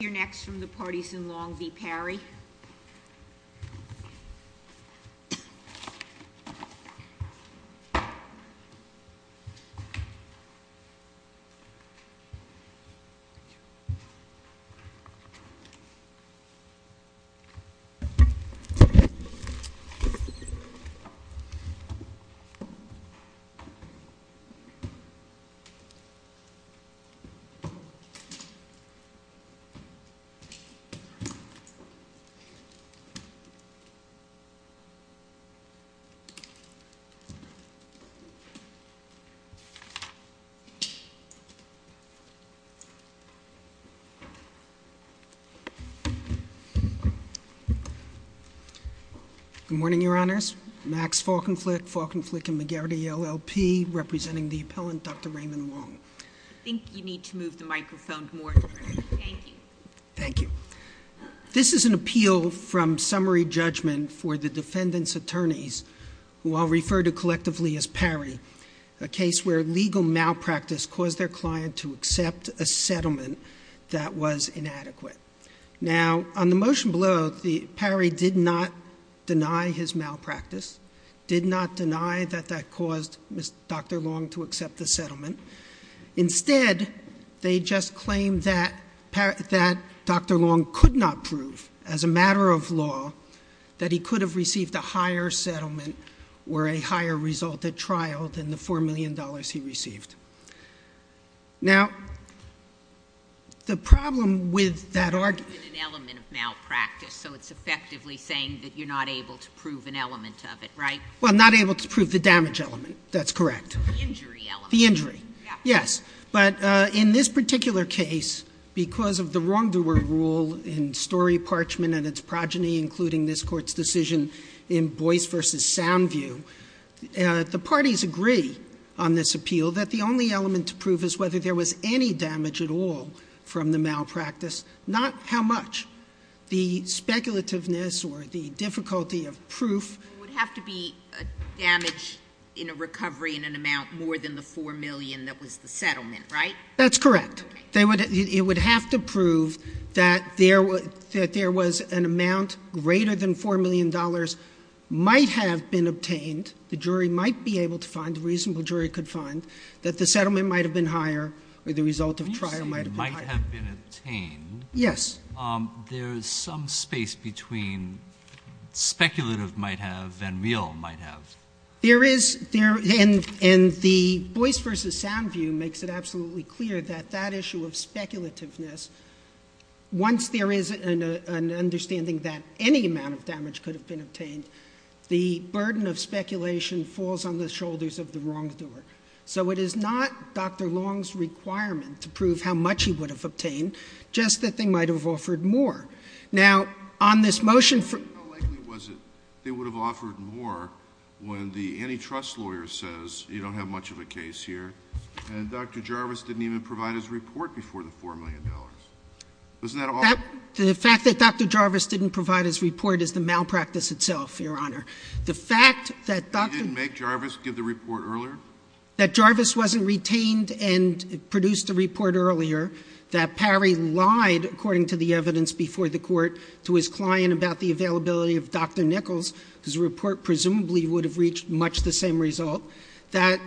You're next from the parties in Long v. Parry. Good morning, Your Honors. Max Falkenflik, Falkenflik & McGarrity, LLP, representing the appellant, Dr. Raymond Long. I think you need to move the microphone more, thank you. Thank you. This is an appeal from summary judgment for the defendant's attorneys, who I'll refer to collectively as Parry, a case where legal malpractice caused their client to accept a settlement that was inadequate. Now on the motion below, Parry did not deny his malpractice, did not deny that that caused Dr. Long to accept the settlement. Instead, they just claimed that Dr. Long could not prove, as a matter of law, that he could have received a higher settlement or a higher result at trial than the $4 million he received. Now the problem with that argument It's an element of malpractice, so it's effectively saying that you're not able to prove an element of it, right? Well, not able to prove the damage element, that's correct. The injury element. The injury. Yes. But in this particular case, because of the wrongdoer rule in Story Parchment and its progeny including this court's decision in Boyce v. Soundview, the parties agree on this appeal that the only element to prove is whether there was any damage at all from the malpractice, not how much. The speculativeness or the difficulty of proof There would have to be damage in a recovery in an amount more than the $4 million that was the settlement, right? That's correct. It would have to prove that there was an amount greater than $4 million might have been obtained, the jury might be able to find, the reasonable jury could find, that the settlement might have been higher or the result of trial might have been higher. When you say might have been obtained Yes. There's some space between speculative might have and real might have. There is, and the Boyce v. Soundview makes it absolutely clear that that issue of speculativeness, once there is an understanding that any amount of damage could have been obtained, the burden of speculation falls on the shoulders of the wrongdoer. So it is not Dr. Long's requirement to prove how much he would have obtained, just that they might have offered more. Now on this motion for How likely was it they would have offered more when the antitrust lawyer says, you don't have much of a case here, and Dr. Jarvis didn't even provide his report before the $4 million? Wasn't that all? The fact that Dr. Jarvis didn't provide his report is the malpractice itself, Your Honor. The fact that You didn't make Jarvis give the report earlier? That Jarvis wasn't retained and produced a report earlier, that Parry lied, according to the evidence before the court, to his client about the availability of Dr. Nichols, whose report presumably would have reached much the same result, that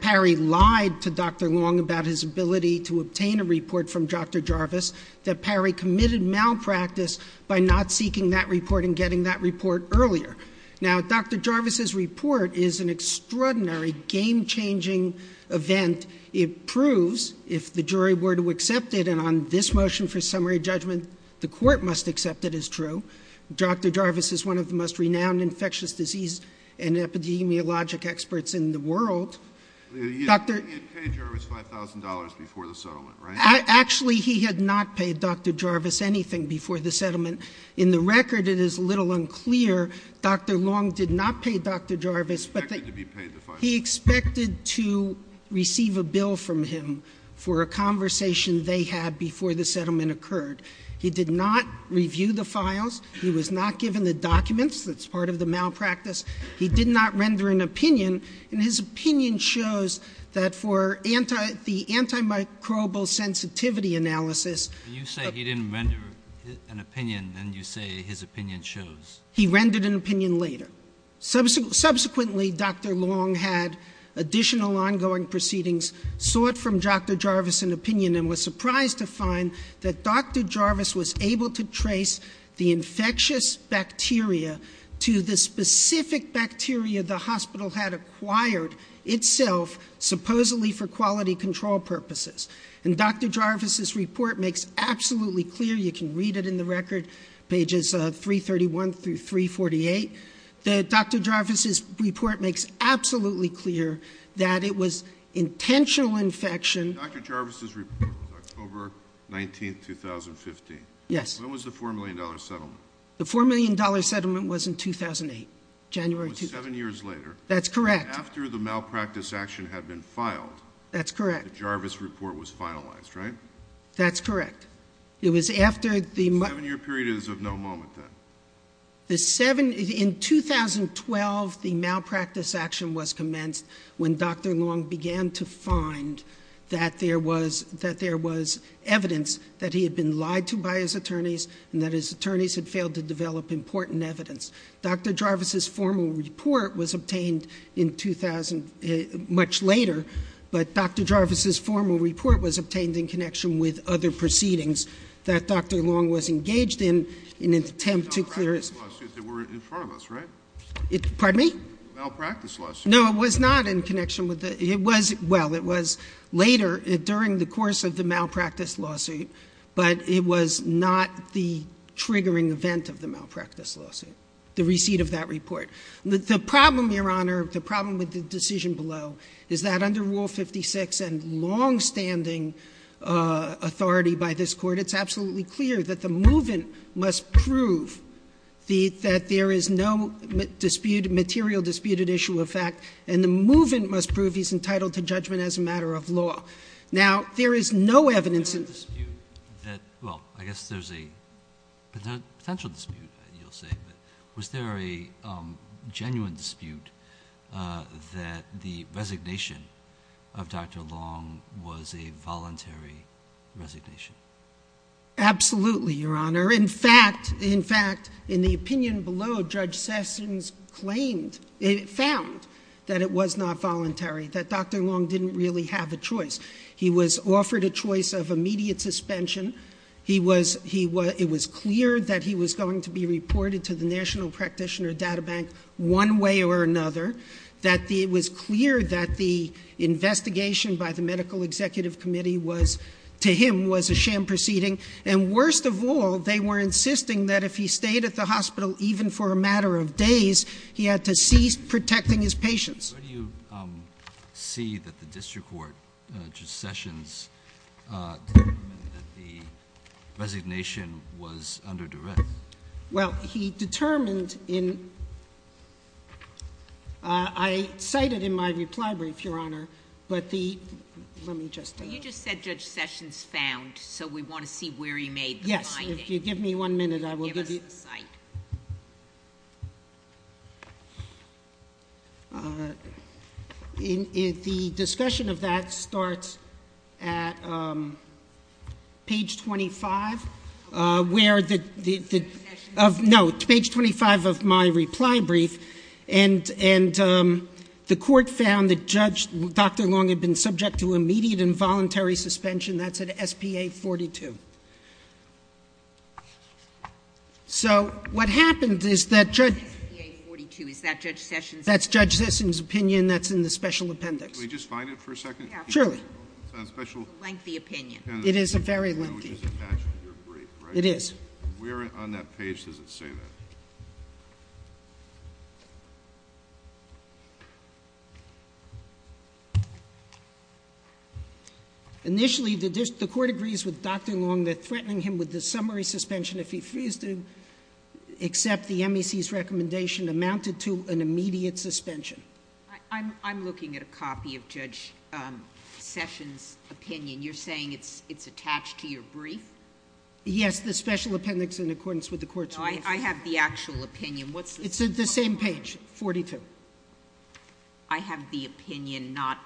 Parry lied to Dr. Long about his ability to obtain a report from Dr. Jarvis, that Parry committed malpractice by not seeking that report and getting that report earlier. Now, Dr. Jarvis's report is an extraordinary, game-changing event. It proves, if the jury were to accept it, and on this motion for summary judgment, the court must accept it as true, Dr. Jarvis is one of the most renowned infectious disease and epidemiologic experts in the world. You paid Jarvis $5,000 before the settlement, right? Actually he had not paid Dr. Jarvis anything before the settlement. In the record, it is a little unclear, Dr. Long did not pay Dr. Jarvis, but he expected to receive a bill from him for a conversation they had before the settlement occurred. He did not review the files, he was not given the documents, that's part of the malpractice, he did not render an opinion, and his opinion shows that for the antimicrobial sensitivity analysis You say he didn't render an opinion, and you say his opinion shows He rendered an opinion later. Subsequently, Dr. Long had additional ongoing proceedings, sought from Dr. Jarvis an opinion, and was surprised to find that Dr. Jarvis was able to trace the infectious bacteria to the specific bacteria the hospital had acquired itself, supposedly for quality control purposes. And Dr. Jarvis' report makes absolutely clear, you can read it in the record, pages 331-348, that Dr. Jarvis' report makes absolutely clear that it was intentional infection Dr. Jarvis' report was October 19th, 2015. Yes. When was the $4 million settlement? The $4 million settlement was in 2008, January 2008. It was seven years later. That's correct. After the malpractice action had been filed. That's correct. The Jarvis report was finalized, right? That's correct. It was after the The seven year period is of no moment, then. In 2012, the malpractice action was commenced when Dr. Long began to find that there was evidence that he had been lied to by his attorneys, and that his attorneys had failed to develop important evidence. Dr. Jarvis' formal report was obtained in 2000, much later, but Dr. Jarvis' formal report was obtained in connection with other proceedings that Dr. Long was engaged in, in an attempt to clear his Malpractice lawsuits that were in front of us, right? Pardon me? Malpractice lawsuits. No, it was not in connection with that. It was, well, it was later, during the course of the malpractice lawsuit, but it was not the triggering event of the malpractice lawsuit, the receipt of that report. The problem, Your Honor, the problem with the decision below is that under Rule 56, and longstanding authority by this Court, it's absolutely clear that the move-in must prove that there is no dispute, material disputed issue of fact, and the move-in must prove he's entitled to judgment as a matter of law. Now, there is no evidence in the dispute that, well, I guess there's a potential dispute, you'll say, but was there a genuine dispute that the resignation of Dr. Long was a voluntary resignation? Absolutely, Your Honor. In fact, in fact, in the opinion below, Judge Sessions claimed, found that it was not voluntary, that Dr. Long didn't really have a choice. He was offered a choice of immediate suspension. It was clear that he was going to be reported to the National Practitioner Data Bank one way or another. That it was clear that the investigation by the Medical Executive Committee was, to him, was a sham proceeding. And worst of all, they were insisting that if he stayed at the hospital even for a matter of days, he had to cease protecting his patients. Where do you see that the district court, Judge Sessions, determined that the resignation was under duress? Well, he determined in, I cited in my reply brief, Your Honor, but the, let me just- You just said Judge Sessions found, so we want to see where he made the finding. Yes, if you give me one minute, I will give you- Give us the site. The discussion of that starts at page 25, where the- Page 25 of my reply brief. And the court found that Judge, Dr. Long had been subject to immediate and voluntary suspension. That's at SPA 42. So what happened is that- SPA 42, is that Judge Sessions- That's Judge Sessions' opinion, that's in the special appendix. Can we just find it for a second? Surely. It's a special- Lengthy opinion. It is a very lengthy. It's attached to your brief, right? It is. Where on that page does it say that? Initially, the court agrees with Dr. Long that threatening him with the summary suspension if he refused to amounted to an immediate suspension. I'm looking at a copy of Judge Sessions' opinion. You're saying it's attached to your brief? Yes, the special appendix in accordance with the court's- No, I have the actual opinion. What's the- It's the same page, 42. I have the opinion, not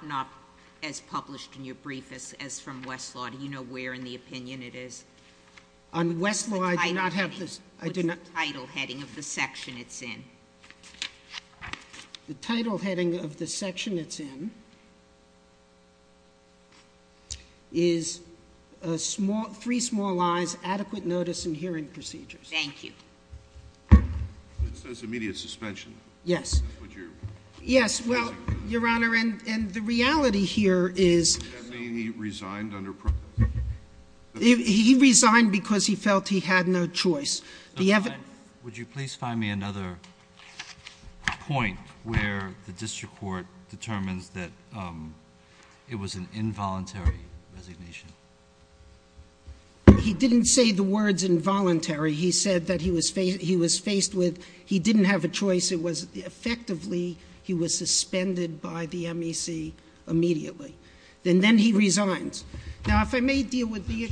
as published in your brief as from Westlaw. Do you know where in the opinion it is? On Westlaw, I do not have this- The title heading of the section it's in is Three Small Lies, Adequate Notice, and Hearing Procedures. Thank you. It says immediate suspension. Yes. Would you- Yes, well, Your Honor, and the reality here is- Does that mean he resigned under- He resigned because he felt he had no choice. The evidence- Would you please find me another point where the district court determines that it was an involuntary resignation? He didn't say the words involuntary. He said that he was faced with, he didn't have a choice. It was effectively, he was suspended by the MEC immediately. And then he resigns. Now, if I may deal with the-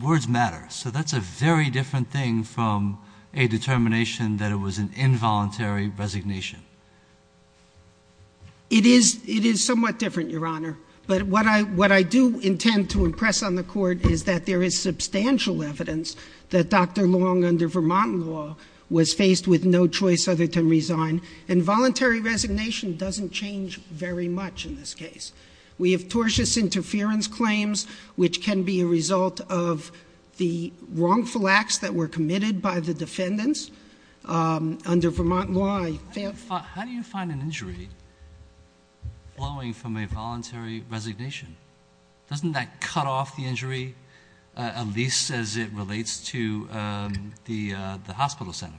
Words matter. So that's a very different thing from a determination that it was an involuntary resignation. It is somewhat different, Your Honor. But what I do intend to impress on the court is that there is substantial evidence that Dr. Long, under Vermont law, was faced with no choice other than resign. And voluntary resignation doesn't change very much in this case. We have tortious interference claims, which can be a result of the wrongful acts that were committed by the defendants. Under Vermont law, I- How do you find an injury flowing from a voluntary resignation? Doesn't that cut off the injury, at least as it relates to the hospital center?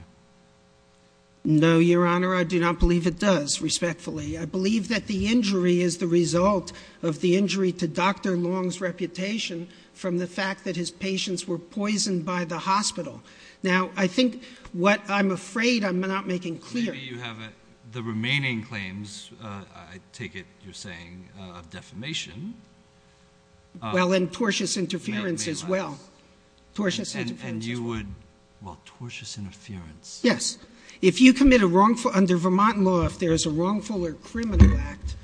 No, Your Honor, I do not believe it does, respectfully. I believe that the injury is the result of the injury to Dr. Long's reputation from the fact that his patients were poisoned by the hospital. Now, I think what I'm afraid, I'm not making clear- Maybe you have the remaining claims, I take it you're saying, of defamation. Well, and tortious interference as well. Tortious interference as well. Well, tortious interference. Yes. If you commit a wrongful, under Vermont law, if there is a wrongful or criminal act,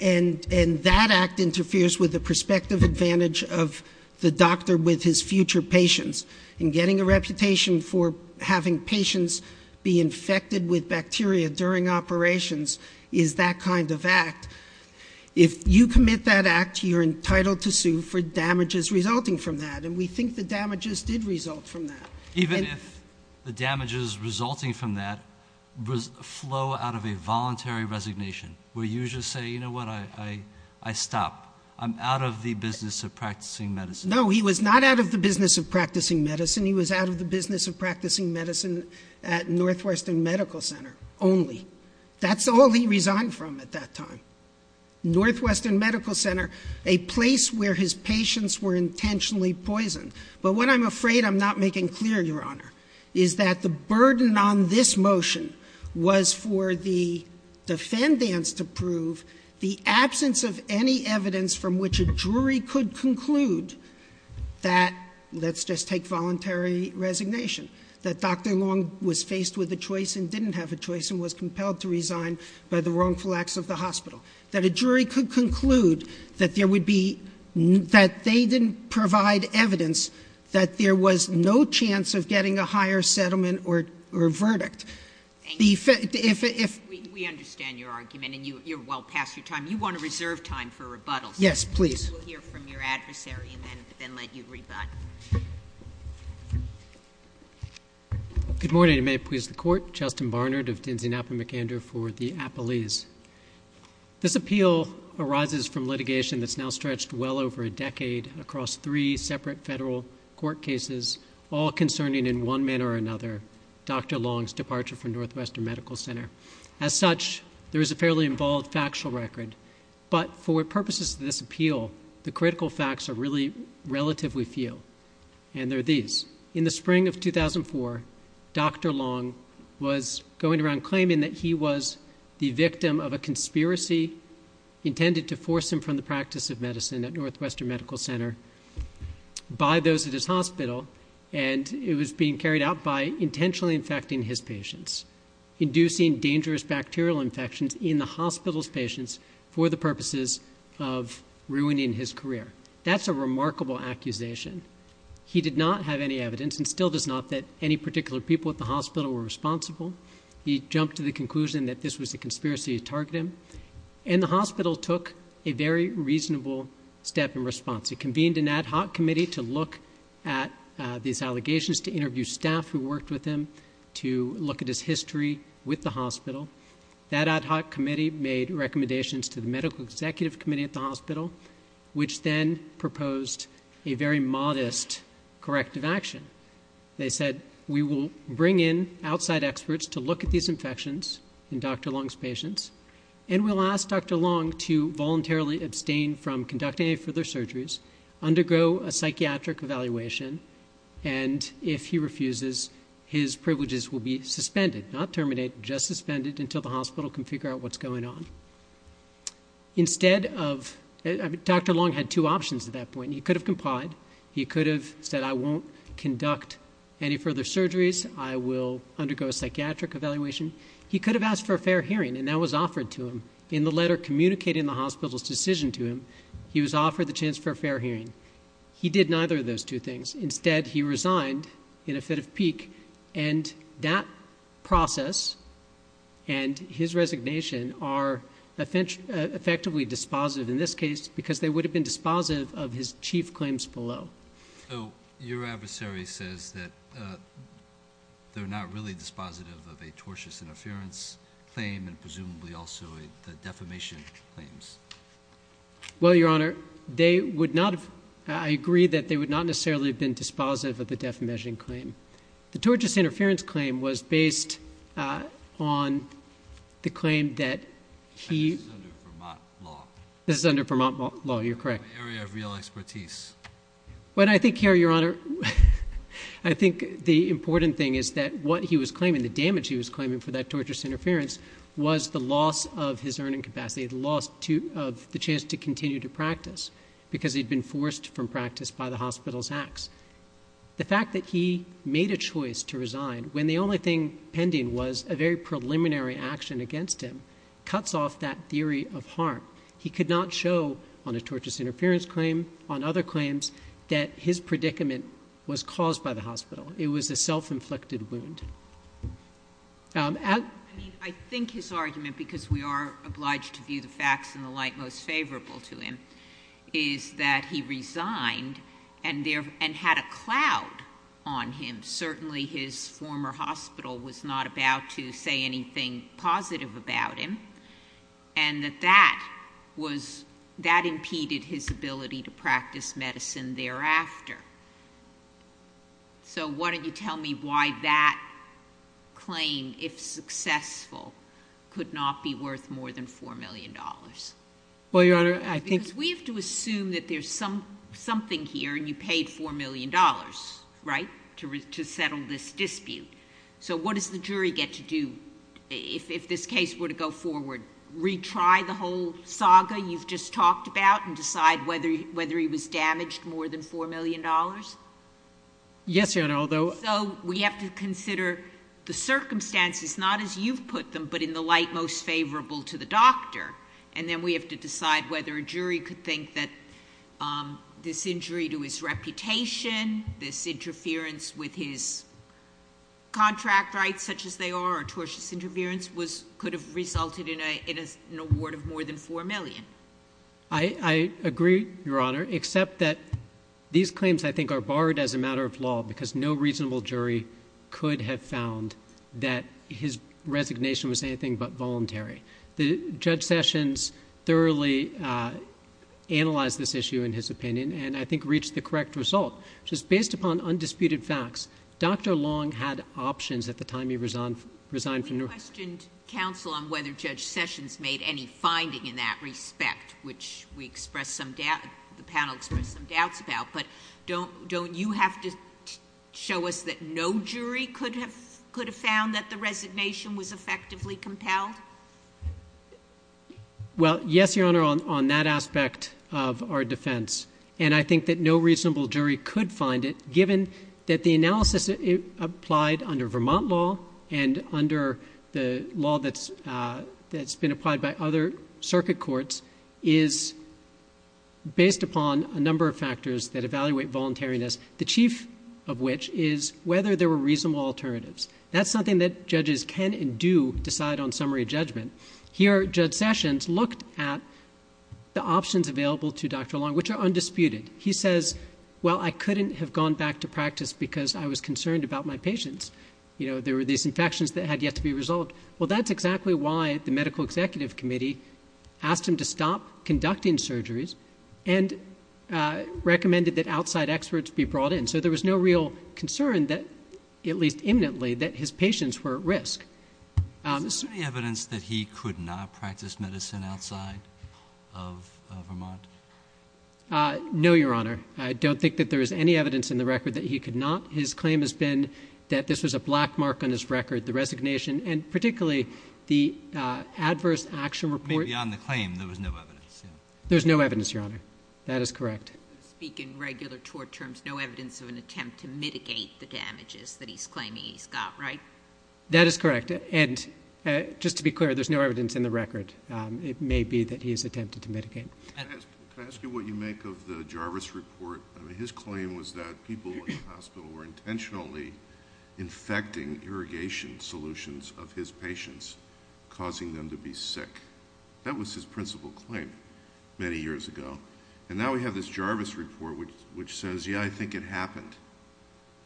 and that act interferes with the prospective advantage of the doctor with his future patients. And getting a reputation for having patients be infected with bacteria during operations is that kind of act. If you commit that act, you're entitled to sue for damages resulting from that. And we think the damages did result from that. Even if the damages resulting from that flow out of a voluntary resignation, where you just say, you know what, I stop. I'm out of the business of practicing medicine. No, he was not out of the business of practicing medicine. He was out of the business of practicing medicine at Northwestern Medical Center only. That's all he resigned from at that time. Northwestern Medical Center, a place where his patients were intentionally poisoned. But what I'm afraid I'm not making clear, Your Honor, is that the burden on this motion was for the defendants to prove the absence of any evidence from which a jury could conclude that, let's just take voluntary resignation. That Dr. Long was faced with a choice and didn't have a choice and was compelled to resign by the wrongful acts of the hospital. That a jury could conclude that they didn't provide evidence that there was no chance of getting a higher settlement or verdict. If- We understand your argument and you're well past your time. You want to reserve time for rebuttals. Yes, please. We'll hear from your adversary and then let you rebut. Good morning, and may it please the court. Justin Barnard of Dinsey Napa McAndrew for the Appalese. This appeal arises from litigation that's now stretched well over a decade across three separate federal court cases, all concerning in one manner or another Dr. Long's departure from Northwestern Medical Center. As such, there is a fairly involved factual record. But for purposes of this appeal, the critical facts are really relatively few, and they're these. In the spring of 2004, Dr. Long was going around claiming that he was the victim of a conspiracy intended to force him from the practice of medicine at Northwestern Medical Center by those at his hospital. And it was being carried out by intentionally infecting his patients, inducing dangerous bacterial infections in the hospital's patients for the purposes of ruining his career. That's a remarkable accusation. He did not have any evidence, and still does not, that any particular people at the hospital were responsible. He jumped to the conclusion that this was a conspiracy to target him. And the hospital took a very reasonable step in response. It convened an ad hoc committee to look at these allegations, to interview staff who worked with him, to look at his history with the hospital. That ad hoc committee made recommendations to the medical executive committee at the hospital, which then proposed a very modest corrective action. They said, we will bring in outside experts to look at these infections in Dr. Long's patients. And we'll ask Dr. Long to voluntarily abstain from conducting any further surgeries, undergo a psychiatric evaluation, and if he refuses, his privileges will be suspended, not terminated, just suspended until the hospital can figure out what's going on. Instead of, Dr. Long had two options at that point. He could have complied. He could have said, I won't conduct any further surgeries. I will undergo a psychiatric evaluation. He could have asked for a fair hearing, and that was offered to him. In the letter communicating the hospital's decision to him, he was offered the chance for a fair hearing. He did neither of those two things. Instead, he resigned in a fit of pique, and that process and his resignation are effectively dispositive in this case, because they would have been dispositive of his chief claims below. So, your adversary says that they're not really dispositive of a tortious interference claim, and presumably also the defamation claims. Well, Your Honor, I agree that they would not necessarily have been dispositive of the defamation claim. The tortious interference claim was based on the claim that he- This is under Vermont law. This is under Vermont law, you're correct. An area of real expertise. But I think here, Your Honor, I think the important thing is that what he was claiming, the damage he was claiming for that tortious interference was the loss of his earning capacity, the loss of the chance to continue to practice, because he'd been forced from practice by the hospital's acts. The fact that he made a choice to resign when the only thing pending was a very preliminary action against him, cuts off that theory of harm. He could not show, on a tortious interference claim, on other claims, that his predicament was caused by the hospital. It was a self-inflicted wound. I think his argument, because we are obliged to view the facts in the light most favorable to him, is that he resigned and had a cloud on him. Certainly, his former hospital was not about to say anything positive about him. And that that impeded his ability to practice medicine thereafter. So why don't you tell me why that claim, if successful, could not be worth more than $4 million? Well, Your Honor, I think- Because we have to assume that there's something here, and you paid $4 million, right, to settle this dispute. So what does the jury get to do, if this case were to go forward, retry the whole saga you've just talked about and decide whether he was damaged more than $4 million? Yes, Your Honor, although- Although we have to consider the circumstances, not as you've put them, but in the light most favorable to the doctor. And then we have to decide whether a jury could think that this injury to his reputation, this interference with his contract rights, such as they are, or tortious interference, could have resulted in an award of more than $4 million. I agree, Your Honor, except that these claims, I think, are barred as a matter of law, because no reasonable jury could have found that his resignation was anything but voluntary. Judge Sessions thoroughly analyzed this issue in his opinion, and I think reached the correct result. Just based upon undisputed facts, Dr. Long had options at the time he resigned from New York- We questioned counsel on whether Judge Sessions made any finding in that respect, which we expressed some doubt, the panel expressed some doubts about. But don't you have to show us that no jury could have found that the resignation was effectively compelled? Well, yes, Your Honor, on that aspect of our defense. And I think that no reasonable jury could find it, given that the analysis applied under Vermont law and the law that's been applied by other circuit courts is based upon a number of factors that evaluate voluntariness. The chief of which is whether there were reasonable alternatives. That's something that judges can and do decide on summary judgment. Here, Judge Sessions looked at the options available to Dr. Long, which are undisputed. He says, well, I couldn't have gone back to practice because I was concerned about my patients. There were these infections that had yet to be resolved. Well, that's exactly why the medical executive committee asked him to stop conducting surgeries and recommended that outside experts be brought in, so there was no real concern that, at least imminently, that his patients were at risk. Is there any evidence that he could not practice medicine outside of Vermont? No, Your Honor. I don't think that there is any evidence in the record that he could not. His claim has been that this was a black mark on his record, the resignation, and particularly the adverse action report. Maybe on the claim, there was no evidence, yeah. There's no evidence, Your Honor. That is correct. Speaking regular tort terms, no evidence of an attempt to mitigate the damages that he's claiming he's got, right? That is correct, and just to be clear, there's no evidence in the record. It may be that he has attempted to mitigate. Can I ask you what you make of the Jarvis report? I mean, his claim was that people in the hospital were intentionally infecting irrigation solutions of his patients, causing them to be sick. That was his principal claim many years ago. And now we have this Jarvis report which says, yeah, I think it happened.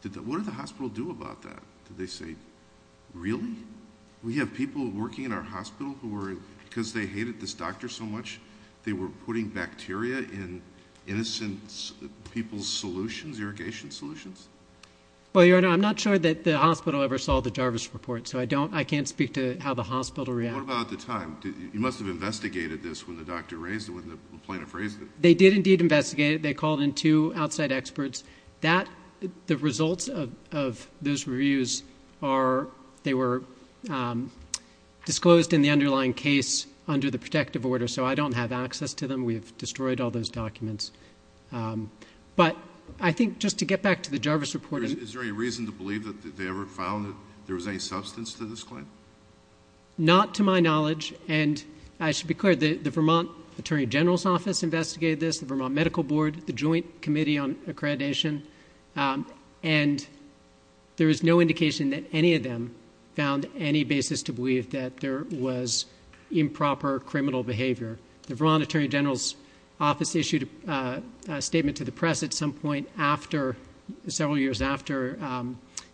What did the hospital do about that? Did they say, really? We have people working in our hospital who were, because they hated this doctor so much, were putting bacteria in innocent people's solutions, irrigation solutions? Well, Your Honor, I'm not sure that the hospital ever saw the Jarvis report, so I can't speak to how the hospital reacted. What about at the time? You must have investigated this when the doctor raised it, when the plaintiff raised it. They did indeed investigate it. They called in two outside experts. The results of those reviews, they were disclosed in the underlying case under the protective order. So I don't have access to them. We have destroyed all those documents. But I think, just to get back to the Jarvis report- Is there any reason to believe that they ever found that there was any substance to this claim? Not to my knowledge. And I should be clear, the Vermont Attorney General's Office investigated this, the Vermont Medical Board, the Joint Committee on Accreditation. And there is no indication that any of them found any basis to believe that there was improper criminal behavior. The Vermont Attorney General's Office issued a statement to the press at some point after, several years after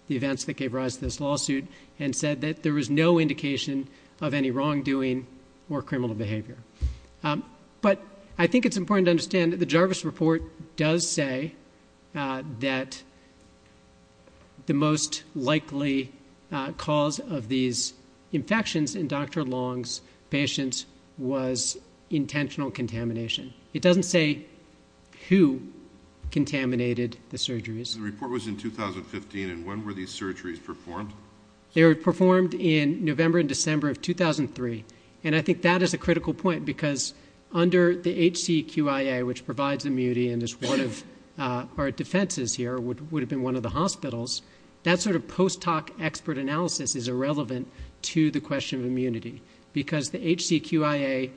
the events that gave rise to this lawsuit, and said that there was no indication of any wrongdoing or criminal behavior. But I think it's important to understand that the Jarvis report does say that the most likely cause of these infections in Dr. Long's patients was intentional contamination. It doesn't say who contaminated the surgeries. The report was in 2015, and when were these surgeries performed? They were performed in November and December of 2003. And I think that is a critical point, because under the HCQIA, which provides immunity and is one of our defenses here, would have been one of the hospitals. That sort of post-hoc expert analysis is irrelevant to the question of immunity, because the HCQIA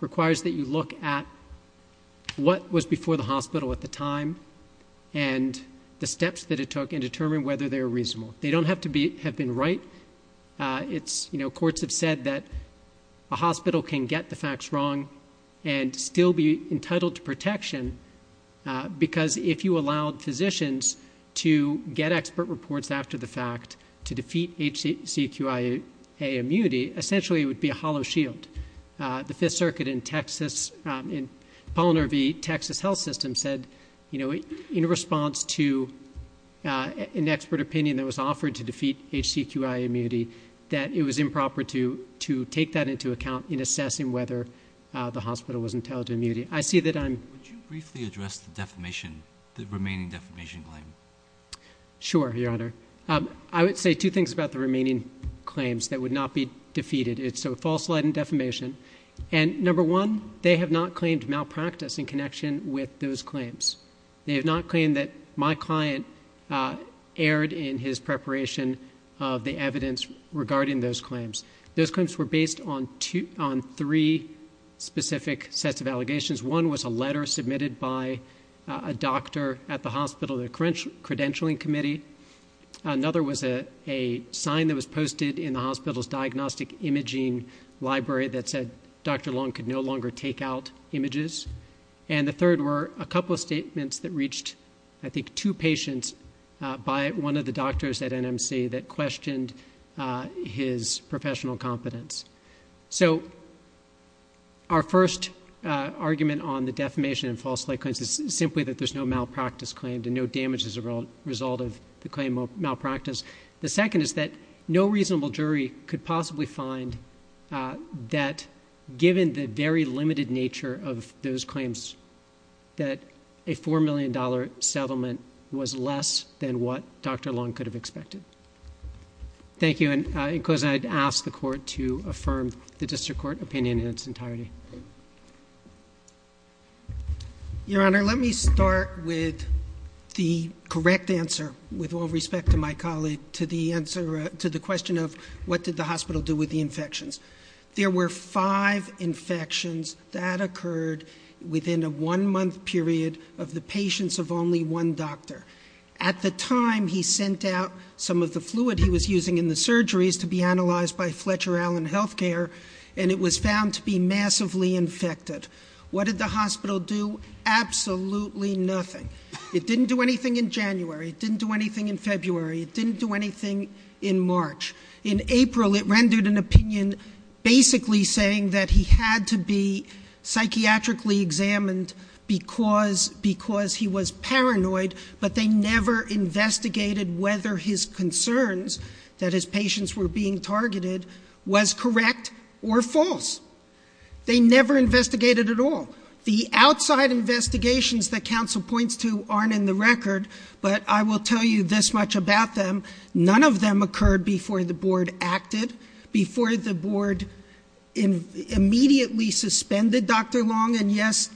requires that you look at what was before the hospital at the time. And the steps that it took in determining whether they're reasonable. They don't have to have been right. Courts have said that a hospital can get the facts wrong and still be entitled to protection because if you allowed physicians to get expert reports after the fact to defeat HCQIA immunity, essentially it would be a hollow shield. The Fifth Circuit in Texas, in Polliner v. Texas Health System said, in response to an expert opinion that was offered to defeat HCQIA immunity, that it was improper to take that into account in assessing whether the hospital was entitled to immunity. I see that I'm- Would you briefly address the defamation, the remaining defamation claim? Sure, your honor. I would say two things about the remaining claims that would not be defeated. It's a false lead in defamation. And number one, they have not claimed malpractice in connection with those claims. They have not claimed that my client erred in his preparation of the evidence regarding those claims. Those claims were based on three specific sets of allegations. One was a letter submitted by a doctor at the hospital, the credentialing committee. Another was a sign that was posted in the hospital's diagnostic imaging library that said Dr. Long could no longer take out images. And the third were a couple of statements that reached, I think, two patients by one of the doctors at NMC that questioned his professional competence. So, our first argument on the defamation and false lead claims is simply that there's no malpractice claim. There's no damage as a result of the claim of malpractice. The second is that no reasonable jury could possibly find that given the very limited nature of those claims that a $4 million settlement was less than what Dr. Long could have expected. Thank you, and in closing, I'd ask the court to affirm the district court opinion in its entirety. Your Honor, let me start with the correct answer, with all respect to my colleague, to the question of what did the hospital do with the infections. There were five infections that occurred within a one month period of the patients of only one doctor. At the time, he sent out some of the fluid he was using in the surgeries to be analyzed by Fletcher Allen Healthcare. And it was found to be massively infected. What did the hospital do? Absolutely nothing. It didn't do anything in January, it didn't do anything in February, it didn't do anything in March. In April, it rendered an opinion basically saying that he had to be psychiatrically examined because he was paranoid, but they never investigated whether his concerns, that his patients were being targeted, was correct or false. They never investigated at all. The outside investigations that counsel points to aren't in the record, but I will tell you this much about them. None of them occurred before the board acted, before the board immediately suspended Dr. Long. And yes,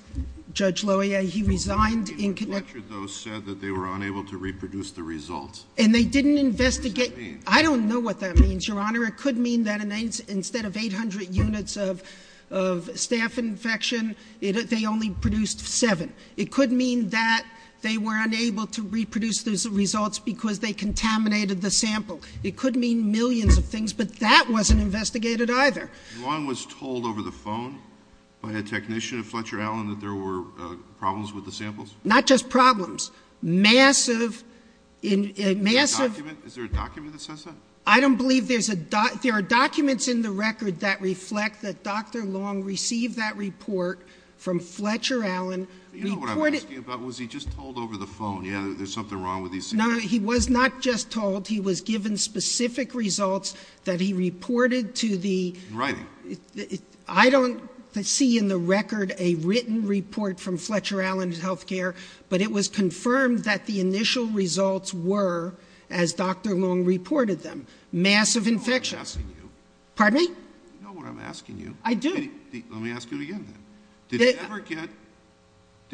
Judge Loya, he resigned in connection- Fletcher, though, said that they were unable to reproduce the results. And they didn't investigate, I don't know what that means, Your Honor. It could mean that instead of 800 units of staff infection, they only produced seven. It could mean that they were unable to reproduce those results because they contaminated the sample. It could mean millions of things, but that wasn't investigated either. Long was told over the phone by a technician of Fletcher Allen that there were problems with the samples? Not just problems, massive, massive- Is there a document that says that? I don't believe there's a, there are documents in the record that reflect that Dr. Fletcher Allen reported- You know what I'm asking about? Was he just told over the phone, yeah, there's something wrong with these- No, no, he was not just told. He was given specific results that he reported to the- Right. I don't see in the record a written report from Fletcher Allen's healthcare, but it was confirmed that the initial results were, as Dr. Long reported them, massive infections. I'm asking you. Pardon me? You know what I'm asking you. I do. Let me ask you again then. Did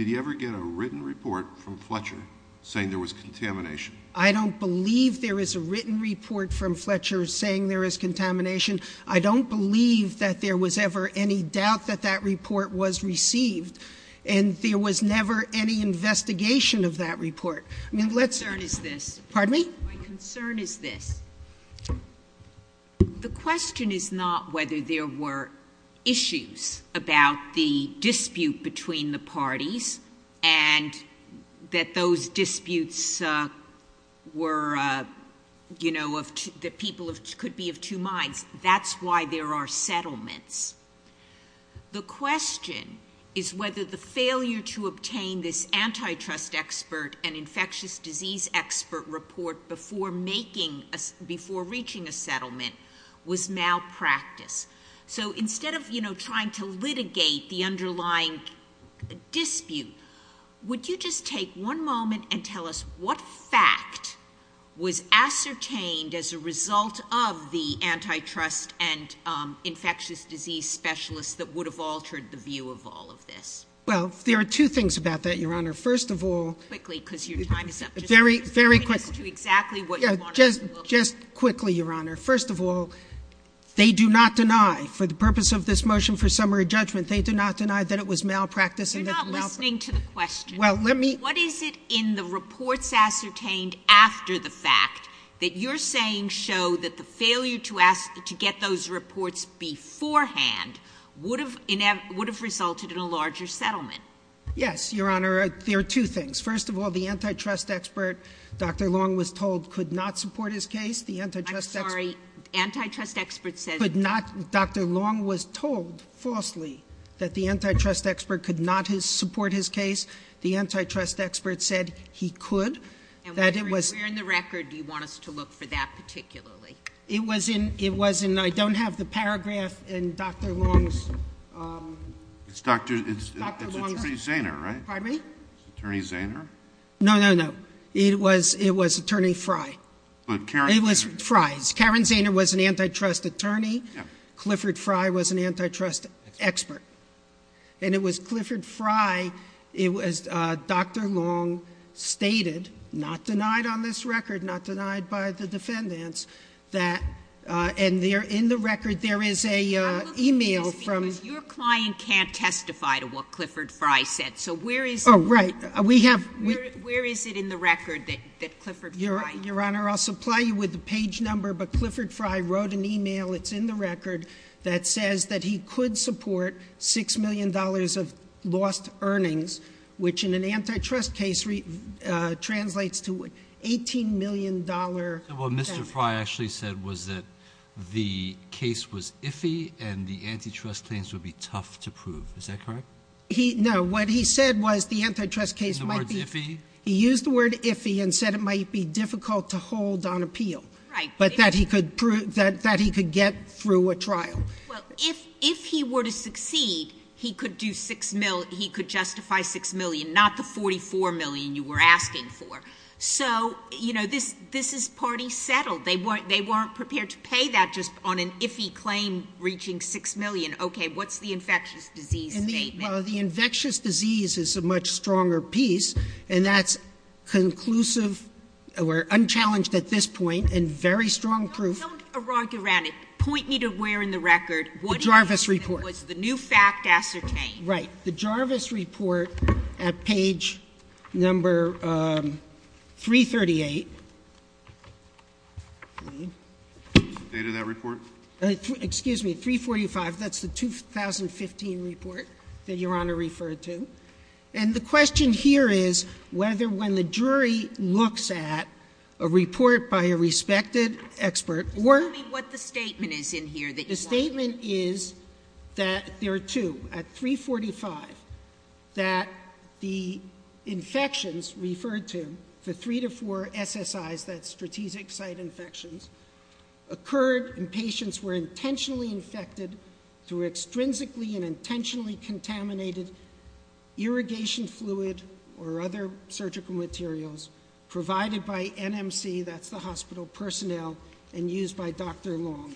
he ever get a written report from Fletcher saying there was contamination? I don't believe there is a written report from Fletcher saying there is contamination. I don't believe that there was ever any doubt that that report was received. And there was never any investigation of that report. I mean, let's- My concern is this. Pardon me? My concern is this. The question is not whether there were issues about the dispute between the parties and that those disputes were, you know, of- that people could be of two minds. That's why there are settlements. The question is whether the failure to obtain this antitrust expert and infectious disease expert report before making- before reaching a settlement was malpractice. So instead of, you know, trying to litigate the underlying dispute, would you just take one moment and tell us what fact was ascertained as a result of the antitrust and infectious disease specialist that would have altered the view of all of this? Well, there are two things about that, Your Honor. First of all- Very quickly, because your time is up. Very, very quickly. Just explain to us exactly what you want us to look at. Just quickly, Your Honor. First of all, they do not deny, for the purpose of this motion for summary judgment, they do not deny that it was malpractice and that it was malpractice. You're not listening to the question. Well, let me- What is it in the reports ascertained after the fact that you're saying show that the failure to ask- to get those reports beforehand would have resulted in a larger settlement? Yes, Your Honor. There are two things. First of all, the antitrust expert, Dr. Long, was told could not support his case. The antitrust expert- I'm sorry. Antitrust expert said- Could not. Dr. Long was told falsely that the antitrust expert could not support his case. The antitrust expert said he could. That it was- And where in the record do you want us to look for that particularly? It was in- I don't have the paragraph in Dr. Long's- It's Dr. Zaner, right? Pardon me? Attorney Zaner? No, no, no. It was Attorney Frey. But Karen- It was Frey. Karen Zaner was an antitrust attorney. Clifford Frey was an antitrust expert. And it was Clifford Frey. It was Dr. Long stated, not denied on this record, not denied by the defendants, that- and in the record there is a email from- I'm looking at this because your client can't testify to what Clifford Frey said. So where is- Oh, right. We have- Where is it in the record that Clifford Frey- Your Honor, I'll supply you with the page number. But Clifford Frey wrote an email, it's in the record, that says that he could support $6 million of lost earnings, which in an antitrust case translates to $18 million- So what Mr. Frey actually said was that the case was iffy and the antitrust claims would be tough to prove. Is that correct? No, what he said was the antitrust case might be- The word's iffy? He used the word iffy and said it might be difficult to hold on appeal. Right. But that he could prove- that he could get through a trial. Well, if he were to succeed, he could do $6 million- he could justify $6 million, not the $44 million you were asking for. So, you know, this is party settled. They weren't prepared to pay that just on an iffy claim reaching $6 million. Okay, what's the infectious disease statement? Well, the infectious disease is a much stronger piece and that's conclusive or unchallenged at this point and very strong proof- Don't argue around it. Point me to where in the record- The Jarvis report. Was the new fact ascertained? Right. The Jarvis report at page number 338. The date of that report? Excuse me, 345, that's the 2015 report that Your Honor referred to. And the question here is whether when the jury looks at a report by a respected expert or- Tell me what the statement is in here that you want to- The statement is that there are two. At 345, that the infections referred to, the three to four SSIs, that's strategic site infections, occurred and patients were intentionally infected through intrinsically and intentionally contaminated irrigation fluid or other surgical materials provided by NMC, that's the hospital personnel, and used by Dr. Long.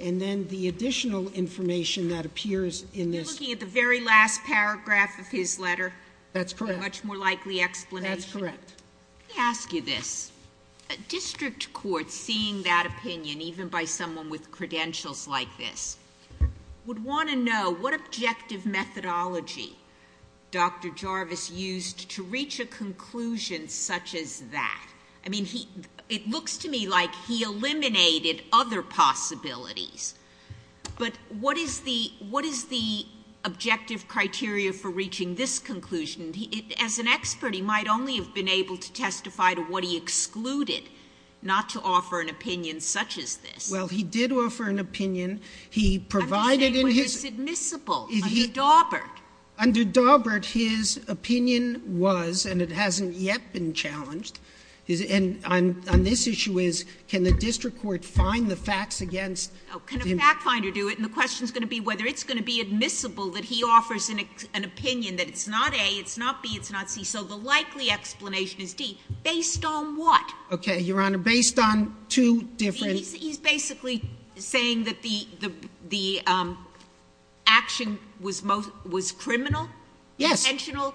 And then the additional information that appears in this- You're looking at the very last paragraph of his letter. That's correct. A much more likely explanation. Yes, that's correct. Let me ask you this. A district court seeing that opinion, even by someone with credentials like this, would want to know what objective methodology Dr. Jarvis used to reach a conclusion such as that. I mean, it looks to me like he eliminated other possibilities. But what is the objective criteria for reaching this conclusion? As an expert, he might only have been able to testify to what he excluded, not to offer an opinion such as this. Well, he did offer an opinion. He provided in his- I'm just saying what is admissible under Daubert. Under Daubert, his opinion was, and it hasn't yet been challenged. And on this issue is, can the district court find the facts against- Can a fact finder do it? And the question's going to be whether it's going to be admissible that he offers an opinion that it's not A, it's not B, it's not C. So the likely explanation is D. Based on what? Okay, Your Honor. Based on two different- He's basically saying that the action was criminal? Yes,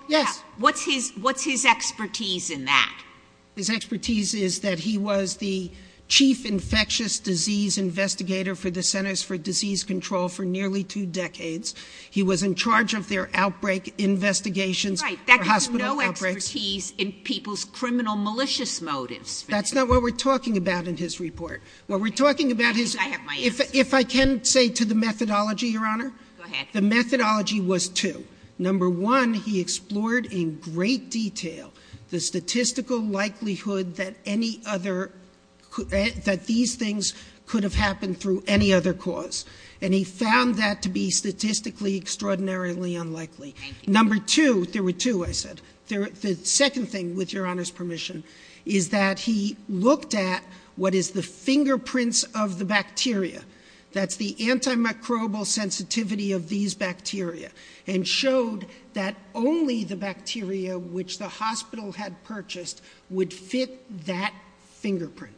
yes. What's his expertise in that? His expertise is that he was the chief infectious disease investigator for the Centers for Disease Control for nearly two decades. He was in charge of their outbreak investigations. Right, that gives him no expertise in people's criminal malicious motives. That's not what we're talking about in his report. What we're talking about is- I think I have my answer. If I can say to the methodology, Your Honor. Go ahead. The methodology was two. Number one, he explored in great detail the statistical likelihood that any other, that these things could have happened through any other cause. And he found that to be statistically extraordinarily unlikely. Number two, there were two, I said. The second thing, with Your Honor's permission, is that he looked at what is the fingerprints of the bacteria. That's the antimicrobial sensitivity of these bacteria. And showed that only the bacteria which the hospital had purchased would fit that fingerprint.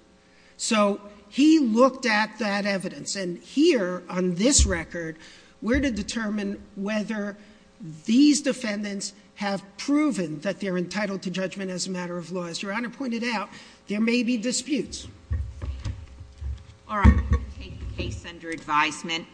So, he looked at that evidence. And here, on this record, we're to determine whether these defendants have proven that they're entitled to judgment as a matter of law. As Your Honor pointed out, there may be disputes. All right, we're going to take the case under advisement.